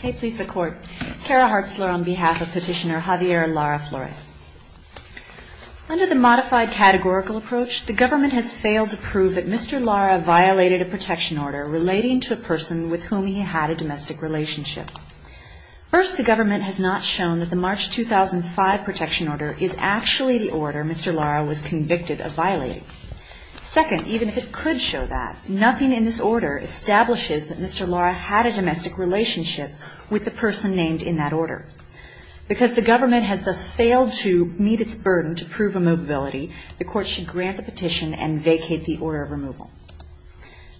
Hey, please, the court. Kara Hartzler on behalf of Petitioner Javier Lara-Flores. Under the modified categorical approach, the government has failed to prove that Mr. Lara violated a protection order relating to a person with whom he had a domestic relationship. First, the government has not shown that the March 2005 protection order is actually the order Mr. Lara was convicted of violating. Second, even if it could show that, nothing in this order establishes that Mr. Lara had a domestic relationship with the person named in that order. Because the government has thus failed to meet its burden to prove immobility, the court should grant the petition and vacate the order of removal.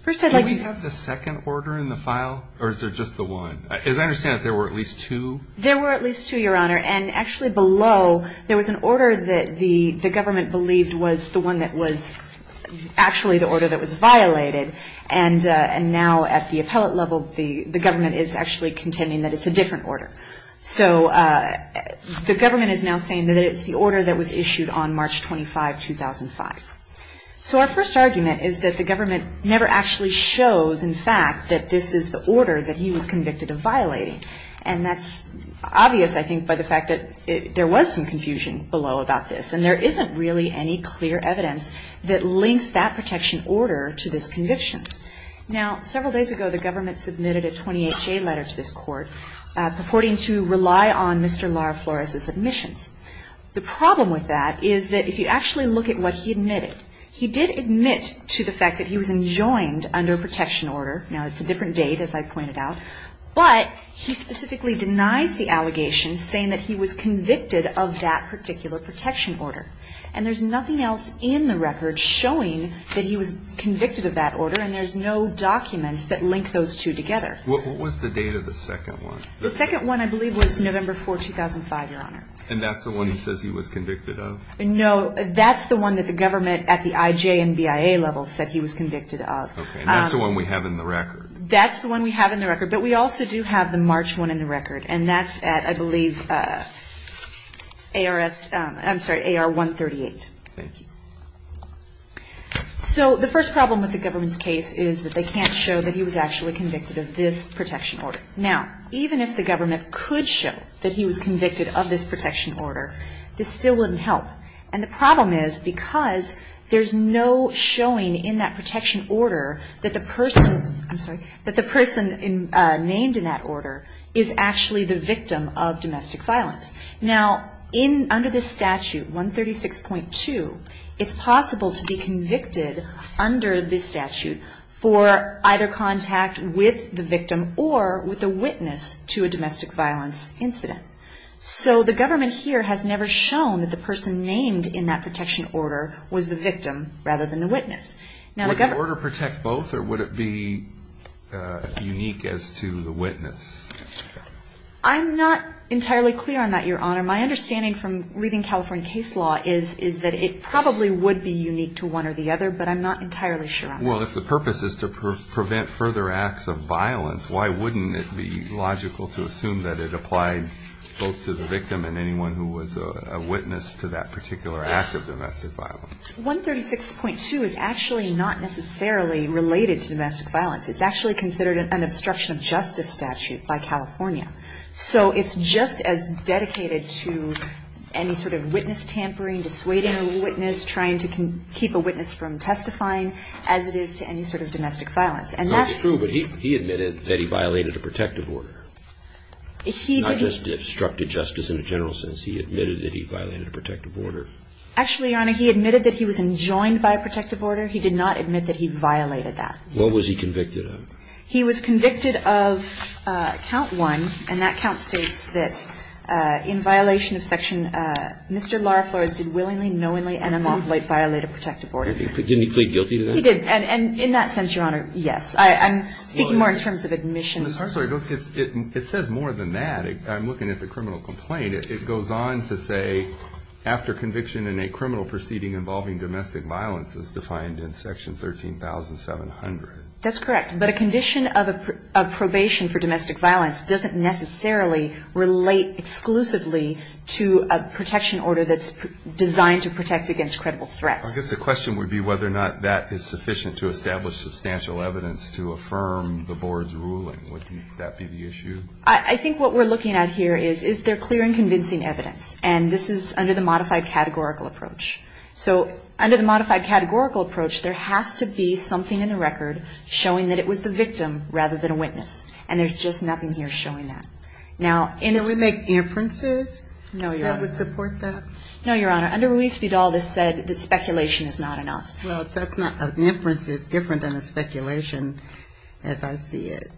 First, I'd like to... Do we have the second order in the file, or is there just the one? As I understand it, there were at least two? There were at least two, Your Honor. And actually below, there was an order that the government believed was the one that was actually the order that was violated. And now at the appellate level, the government is actually contending that it's a different order. So the government is now saying that it's the order that was issued on March 25, 2005. So our first argument is that the government never actually shows, in fact, that this is the order that he was convicted of violating. And that's obvious, I think, by the fact that there was some confusion below about this. And there isn't really any clear evidence that links that protection order to this conviction. Now, several days ago, the government submitted a 28-J letter to this court purporting to rely on Mr. Lara Flores's admissions. The problem with that is that if you actually look at what he admitted, he did admit to the fact that he was enjoined under protection order. Now, it's a different date, as I pointed out. But he specifically denies the allegation, saying that he was convicted of that particular protection order. And there's nothing else in the record showing that he was convicted of that order, and there's no documents that link those two together. What was the date of the second one? The second one, I believe, was November 4, 2005, Your Honor. And that's the one he says he was convicted of? No, that's the one that the government at the IJ and BIA level said he was convicted of. Okay, and that's the one we have in the record. That's the one we have in the record. But we also do have the March one in the record. And that's at, I believe, ARS, I'm sorry, AR 138. Thank you. So the first problem with the government's case is that they can't show that he was actually convicted of this protection order. Now, even if the government could show that he was convicted of this protection order, this still wouldn't help. And the problem is because there's no showing in that protection order that the person named in that order is actually the victim of domestic violence. Now, under this statute, 136.2, it's possible to be convicted under this statute for either contact with the victim or with the witness to a domestic violence incident. So the government here has never shown that the person named in that protection order was the victim rather than the witness. Would the order protect both or would it be unique as to the witness? I'm not entirely clear on that, Your Honor. My understanding from reading California case law is that it probably would be unique to one or the other, but I'm not entirely sure on that. Well, if the purpose is to prevent further acts of violence, why wouldn't it be logical to assume that it applied both to the victim and anyone who was a witness to that particular act of domestic violence? 136.2 is actually not necessarily related to domestic violence. It's actually considered an obstruction of justice statute by California. So it's just as dedicated to any sort of witness tampering, dissuading a witness, trying to keep a witness from testifying, as it is to any sort of domestic violence. It's not true, but he admitted that he violated a protective order. He did. Not just obstructed justice in a general sense. He admitted that he violated a protective order. Actually, Your Honor, he admitted that he was enjoined by a protective order. He did not admit that he violated that. What was he convicted of? He was convicted of count one, and that count states that in violation of section Mr. Lara Flores did willingly, knowingly, and unlawfully violate a protective order. Didn't he plead guilty to that? He did. And in that sense, Your Honor, yes. I'm speaking more in terms of admissions. It says more than that. I'm looking at the criminal complaint. It goes on to say after conviction in a criminal proceeding involving domestic violence is defined in section 13,700. That's correct. But a condition of probation for domestic violence doesn't necessarily relate exclusively to a protection order that's designed to protect against credible threats. I guess the question would be whether or not that is sufficient to establish substantial evidence to affirm the Board's ruling. Would that be the issue? I think what we're looking at here is, is there clear and convincing evidence? And this is under the modified categorical approach. So under the modified categorical approach, there has to be something in the record showing that it was the victim rather than a witness. And there's just nothing here showing that. Can we make inferences that would support that? No, Your Honor. Under Ruiz Vidal, this said that speculation is not enough. Well, that's not an inference. It's different than a speculation as I see it.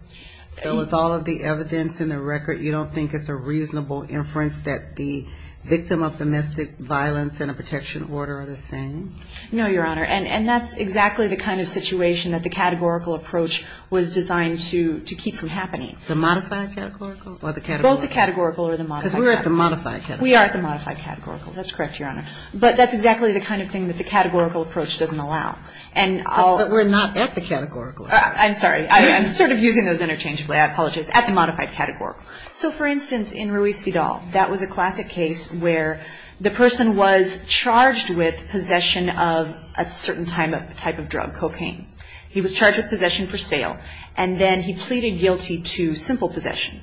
So with all of the evidence in the record, you don't think it's a reasonable inference that the victim of domestic violence and a protection order are the same? No, Your Honor. And that's exactly the kind of situation that the categorical approach was designed to keep from happening. The modified categorical or the categorical? Both the categorical or the modified. Because we're at the modified categorical. We are at the modified categorical. That's correct, Your Honor. But that's exactly the kind of thing that the categorical approach doesn't allow. But we're not at the categorical. I'm sorry. I'm sort of using those interchangeably. I apologize. At the modified categorical. So, for instance, in Ruiz Vidal, that was a classic case where the person was charged with possession of a certain type of drug, cocaine. He was charged with possession for sale. And then he pleaded guilty to simple possession.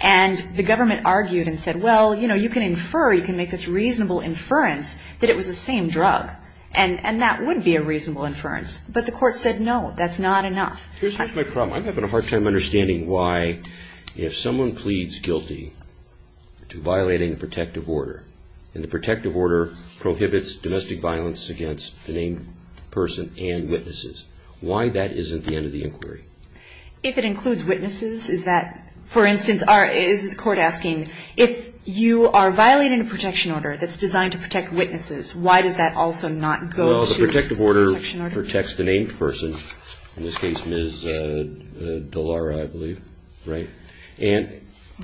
And the government argued and said, well, you know, you can infer, you can make this reasonable inference that it was the same drug. And that would be a reasonable inference. But the court said, no, that's not enough. Here's my problem. I'm having a hard time understanding why, if someone pleads guilty to violating the protective order, and the protective order prohibits domestic violence against the named person and witnesses, why that isn't the end of the inquiry? If it includes witnesses, is that, for instance, is the court asking, if you are violating a protection order that's designed to protect witnesses, why does that also not go to the protection order? The order protects the named person. In this case, Ms. Dallara, I believe. Right?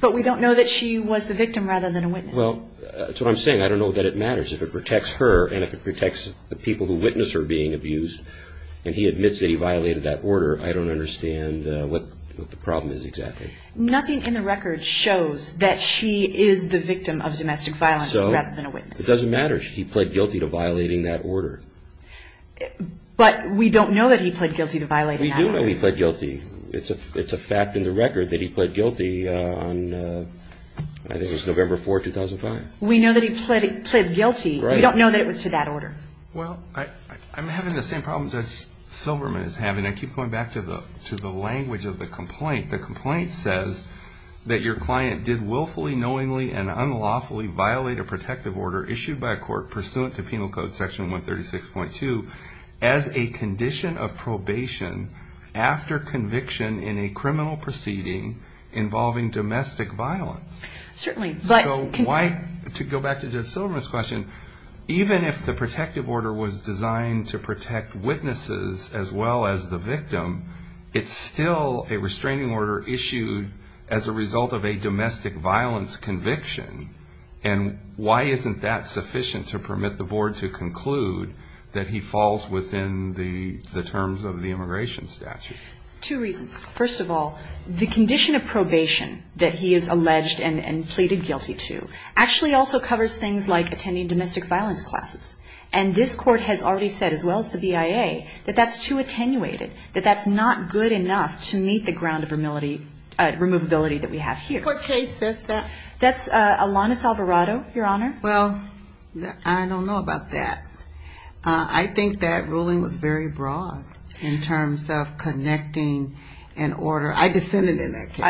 But we don't know that she was the victim rather than a witness. Well, that's what I'm saying. I don't know that it matters. If it protects her and if it protects the people who witness her being abused and he admits that he violated that order, I don't understand what the problem is exactly. Nothing in the record shows that she is the victim of domestic violence rather than a witness. It doesn't matter. He pled guilty to violating that order. But we don't know that he pled guilty to violating that order. We do know he pled guilty. It's a fact in the record that he pled guilty on, I think it was November 4, 2005. We know that he pled guilty. Right. We don't know that it was to that order. Well, I'm having the same problem Judge Silberman is having. I keep going back to the language of the complaint. The complaint says that your client did willfully, knowingly, and unlawfully violate a condition of probation after conviction in a criminal proceeding involving domestic violence. Certainly. To go back to Judge Silberman's question, even if the protective order was designed to protect witnesses as well as the victim, it's still a restraining order issued as a result of a domestic violence conviction. And why isn't that sufficient to permit the Board to conclude that he falls within the terms of the immigration statute? Two reasons. First of all, the condition of probation that he is alleged and pleaded guilty to actually also covers things like attending domestic violence classes. And this Court has already said, as well as the BIA, that that's too attenuated, that that's not good enough to meet the ground of removability that we have here. What case says that? That's Alanis Alvarado, Your Honor. Well, I don't know about that. I think that ruling was very broad in terms of connecting an order. I dissented in that case.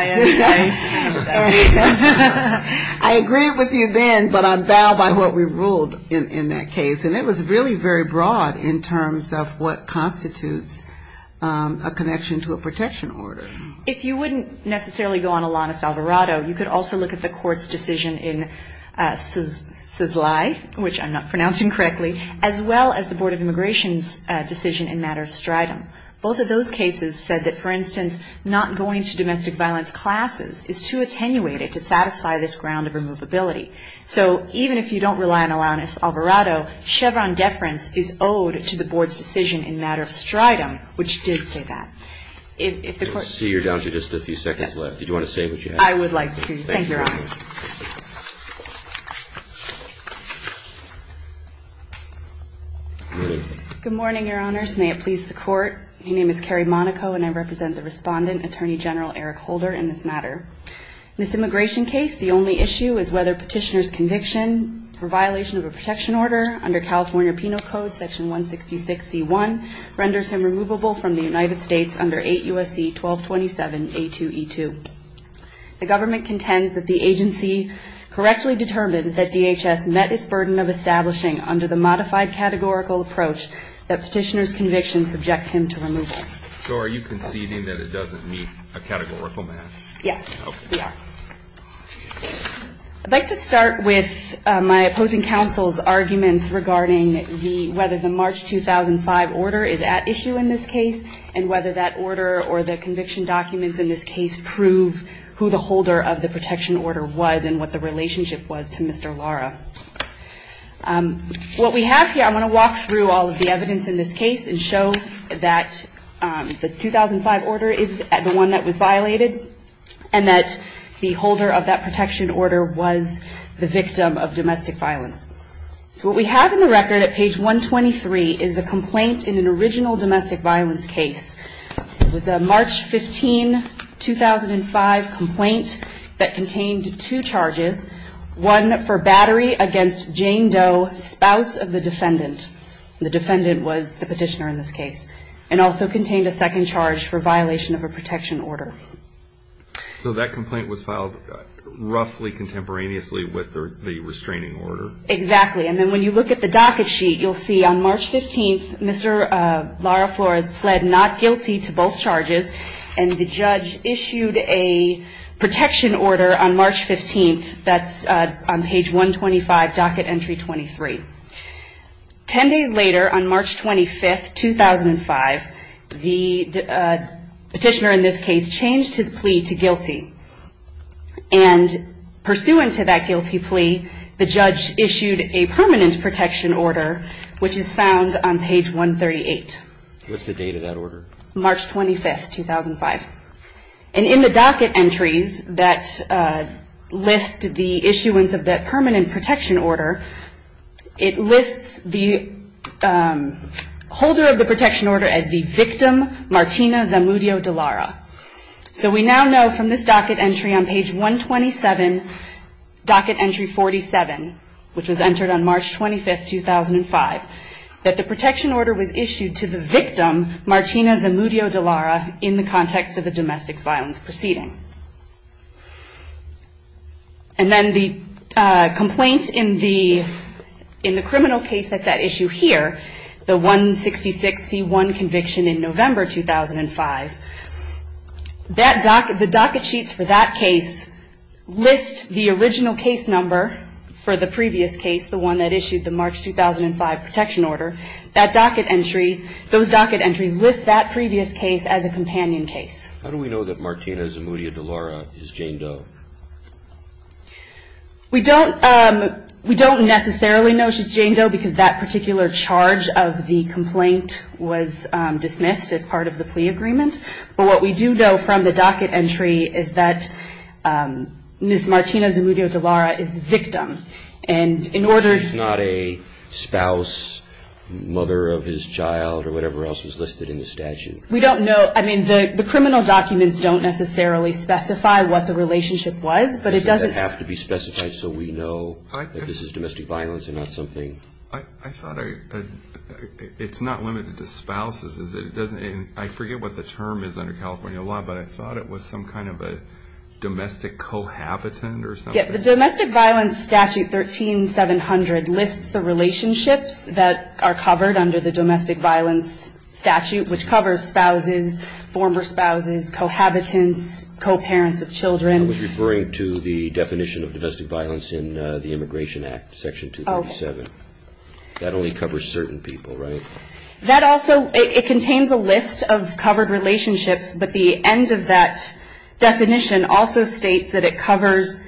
I agree with you then, but I bow by what we ruled in that case. And it was really very broad in terms of what constitutes a connection to a protection order. If you wouldn't necessarily go on Alanis Alvarado, you could also look at the Court's decision in Czizlai, which I'm not pronouncing correctly, as well as the Board of Immigration's decision in matter of stridum. Both of those cases said that, for instance, not going to domestic violence classes is too attenuated to satisfy this ground of removability. So even if you don't rely on Alanis Alvarado, Chevron deference is owed to the Board's decision in matter of stridum, which did say that. I see you're down to just a few seconds left. Did you want to say what you had? I would like to. Thank you, Your Honor. Good morning, Your Honors. May it please the Court. My name is Carrie Monaco, and I represent the Respondent, Attorney General Eric Holder, in this matter. In this immigration case, the only issue is whether Petitioner's conviction for violation of a protection order under California Penal Code, Section 166C1, renders him removable from the United States under 8 U.S.C. 1227.A2.E2. The government contends that the agency correctly determined that DHS met its burden of establishing under the modified categorical approach that Petitioner's conviction subjects him to removal. So are you conceding that it doesn't meet a categorical map? Yes, we are. I'd like to start with my opposing counsel's arguments regarding whether the March 2005 order is at issue in this case, and whether that order or the conviction documents in this case prove who the holder of the protection order was and what the relationship was to Mr. Lara. What we have here, I'm going to walk through all of the evidence in this case and show that the 2005 order is the one that was violated, and that the holder of that protection order was the victim of domestic violence. So what we have in the record at page 123 is a complaint in an original domestic violence case. It was a March 15, 2005 complaint that contained two charges. One for battery against Jane Doe, spouse of the defendant. The defendant was the petitioner in this case. And also contained a second charge for violation of a protection order. So that complaint was filed roughly contemporaneously with the restraining order? Exactly. And then when you look at the docket sheet, you'll see on March 15, Mr. Lara Flores pled not guilty to both charges. And the judge issued a protection order on March 15. That's on page 125, docket entry 23. Ten days later, on March 25, 2005, the petitioner in this case changed his plea to guilty. And pursuant to that guilty plea, the judge issued a permanent protection order, which is found on page 138. What's the date of that order? March 25, 2005. And in the docket entries that list the issuance of that permanent protection order, it lists the holder of the protection order as the victim, Martina Zamudio de Lara. So we now know from this docket entry on page 127, docket entry 47, which was entered on March 25, 2005, that the protection order was issued to the victim, Martina Zamudio de Lara, in the context of a domestic violence proceeding. And then the complaint in the criminal case at that issue here, the 166C1 conviction in November 2005, the docket sheets for that case list the original case number for the previous case, the one that issued the March 2005 protection order. That docket entry, those docket entries list that previous case as a companion case. How do we know that Martina Zamudio de Lara is Jane Doe? We don't necessarily know she's Jane Doe because that particular charge of the complaint was dismissed as part of the plea agreement. But what we do know from the docket entry is that Ms. Martina Zamudio de Lara is the victim. And in order to... She's not a spouse, mother of his child, or whatever else was listed in the statute. We don't know. I mean, the criminal documents don't necessarily specify what the relationship was, but it doesn't... It doesn't have to be specified so we know that this is domestic violence and not something... I thought it's not limited to spouses. I forget what the term is under California law, but I thought it was some kind of a domestic cohabitant or something. The domestic violence statute, 13700, lists the relationships that are covered under the domestic violence statute, which covers spouses, former spouses, cohabitants, co-parents of children. I was referring to the definition of domestic violence in the Immigration Act, Section 237. That only covers certain people, right? That also... It contains a list of covered relationships, but the end of that definition also states that it covers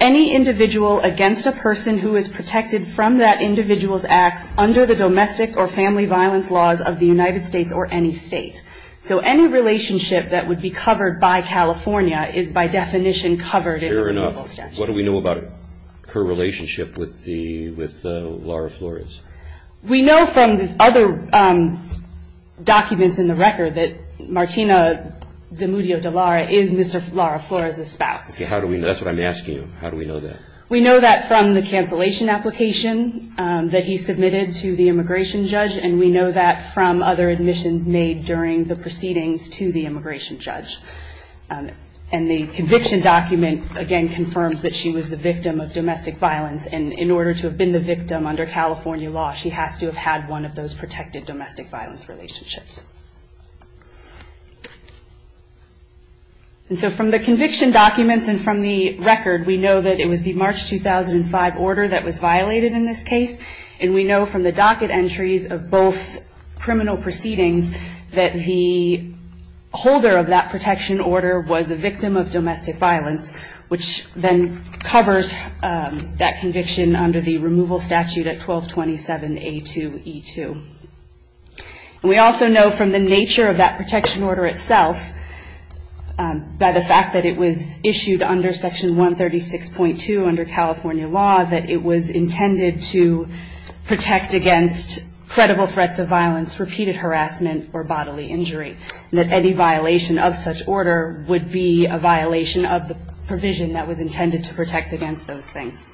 any individual against a person who is protected from that individual's acts under the domestic or family violence laws of the United States or any state. So any relationship that would be covered by California is, by definition, covered in the immigration statute. Fair enough. What do we know about her relationship with Laura Flores? We know from other documents in the record that Martina Zamudio-Dallara is Mr. Laura Flores' spouse. Okay. How do we know? That's what I'm asking you. How do we know that? We know that from the cancellation application that he submitted to the immigration judge, and we know that from other admissions made during the proceedings to the immigration judge. And the conviction document, again, confirms that she was the victim of domestic violence, and in order to have been the victim under California law, she has to have had one of those protected domestic violence relationships. And so from the conviction documents and from the record, we know that it was the March 2005 order that was violated in this case, and we know from the docket entries of both criminal proceedings that the holder of that protection order was a victim of domestic violence, which then covers that conviction under the removal statute at 1227A2E2. And we also know from the nature of that protection order itself, by the fact that it was issued under Section 136.2 under California law, that it was intended to protect against credible threats of violence, repeated harassment, or bodily injury, and that any violation of such order would be a violation of the provision that was intended to protect against those things.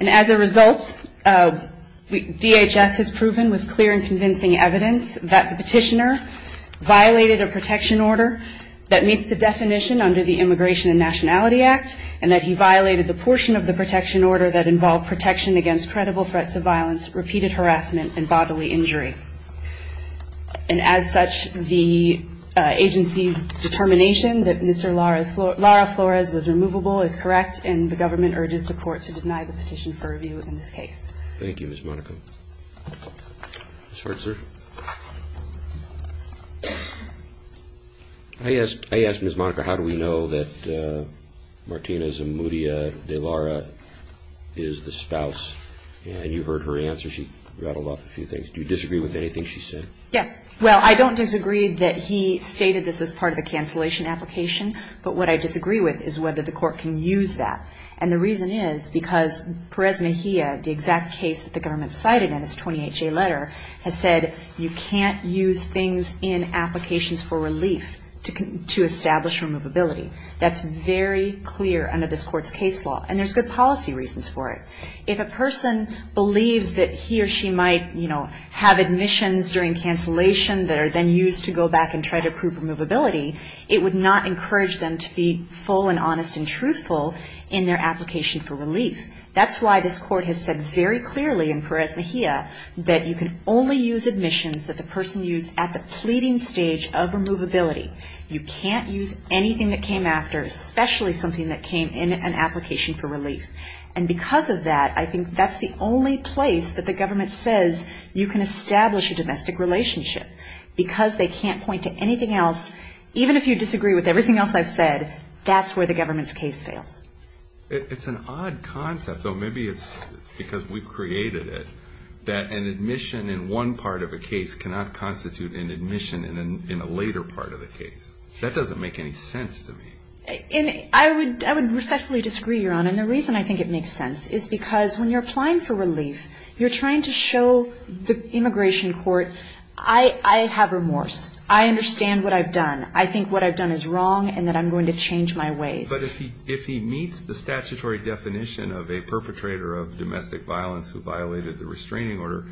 And as a result, DHS has proven with clear and convincing evidence that the petitioner violated a protection order that meets the definition under the Immigration and Nationality Act, and that he violated the portion of the protection order that involved protection against credible threats of violence, repeated harassment, and bodily injury. And as such, the agency's determination that Mr. Lara Flores was removable is correct, and the government urges the court to deny the petition for review in this case. Thank you, Ms. Monica. I asked Ms. Monica how do we know that Martina Zamudia de Lara is the spouse, and you heard her answer. She rattled off a few things. Do you disagree with anything she said? Yes. Well, I don't disagree that he stated this as part of the cancellation application, but what I disagree with is whether the court can use that. And the reason is because Perez Mejia, the exact case that the government cited in its 28-J letter, has said you can't use things in applications for relief to establish removability. That's very clear under this court's case law, and there's good policy reasons for it. If a person believes that he or she might, you know, have admissions during cancellation that are then used to go back and try to prove removability, it would not encourage them to be full and honest and truthful in their application for relief. That's why this court has said very clearly in Perez Mejia that you can only use admissions that the person used at the pleading stage of removability. You can't use anything that came after, especially something that came in an application for relief. And because of that, I think that's the only place that the government says you can establish a domestic relationship. Because they can't point to anything else, even if you disagree with everything else I've said, that's where the government's case fails. It's an odd concept, though maybe it's because we've created it, that an admission in one part of a case cannot constitute an admission in a later part of the case. That doesn't make any sense to me. I would respectfully disagree, Your Honor, and the reason I think it makes sense is because when you're applying for relief, you're trying to show the immigration court, I have remorse. I understand what I've done. I think what I've done is wrong and that I'm going to change my ways. But if he meets the statutory definition of a perpetrator of domestic violence who violated the restraining order,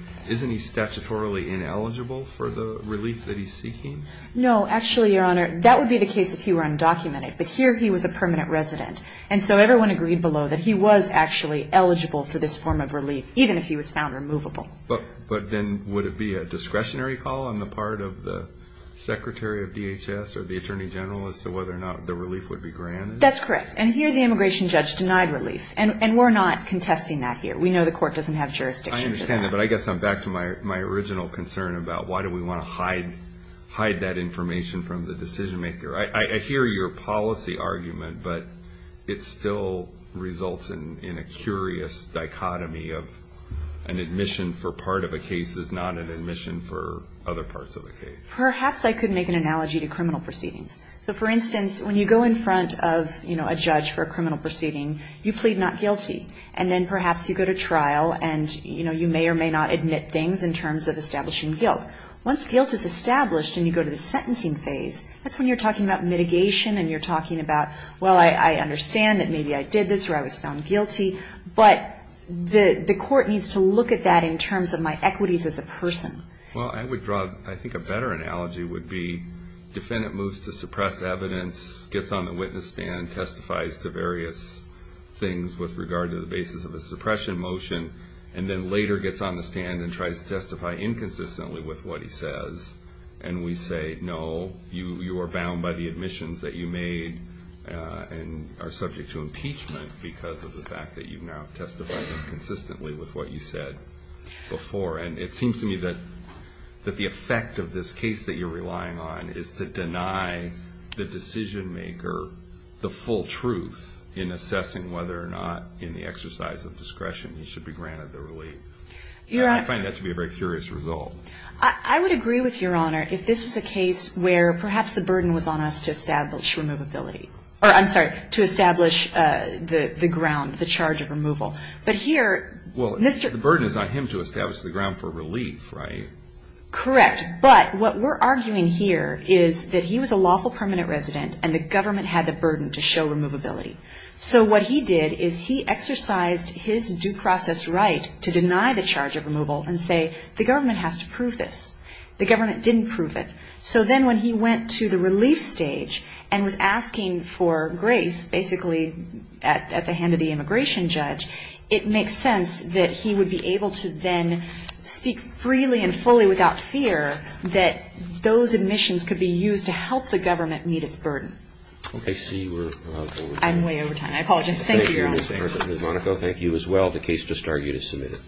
No, actually, Your Honor, that would be the case if he were undocumented. But here he was a permanent resident, and so everyone agreed below that he was actually eligible for this form of relief, even if he was found removable. But then would it be a discretionary call on the part of the Secretary of DHS or the Attorney General as to whether or not the relief would be granted? That's correct. And here the immigration judge denied relief, and we're not contesting that here. We know the court doesn't have jurisdiction for that. I understand that, but I guess I'm back to my original concern about why do we want to hide that information from the decision-maker. I hear your policy argument, but it still results in a curious dichotomy of an admission for part of a case is not an admission for other parts of a case. Perhaps I could make an analogy to criminal proceedings. So, for instance, when you go in front of a judge for a criminal proceeding, you plead not guilty, and then perhaps you go to trial and you may or may not admit things in terms of establishing guilt. Once guilt is established and you go to the sentencing phase, that's when you're talking about mitigation and you're talking about, well, I understand that maybe I did this or I was found guilty, but the court needs to look at that in terms of my equities as a person. Well, I would draw, I think, a better analogy would be defendant moves to suppress evidence, gets on the witness stand, testifies to various things with regard to the basis of a suppression motion, and then later gets on the stand and tries to testify inconsistently with what he says, and we say, no, you are bound by the admissions that you made and are subject to impeachment because of the fact that you've now testified inconsistently with what you said before. And it seems to me that the effect of this case that you're relying on is to deny the decision-maker the full truth in assessing whether or not in the exercise of discretion he should be granted the relief. I find that to be a very curious result. I would agree with Your Honor if this was a case where perhaps the burden was on us to establish removability, or I'm sorry, to establish the ground, the charge of removal. But here Mr. Well, the burden is on him to establish the ground for relief, right? Correct. But what we're arguing here is that he was a lawful permanent resident and the government had the burden to show removability. So what he did is he exercised his due process right to deny the charge of removal and say the government has to prove this. The government didn't prove it. So then when he went to the relief stage and was asking for grace, basically at the hand of the immigration judge, it makes sense that he would be able to then speak freely and fully without fear that those admissions could be used to help the government meet its burden. I see you're way over time. I'm way over time. I apologize. Thank you, Your Honor. Ms. Monaco, thank you as well. The case just argued is submitted.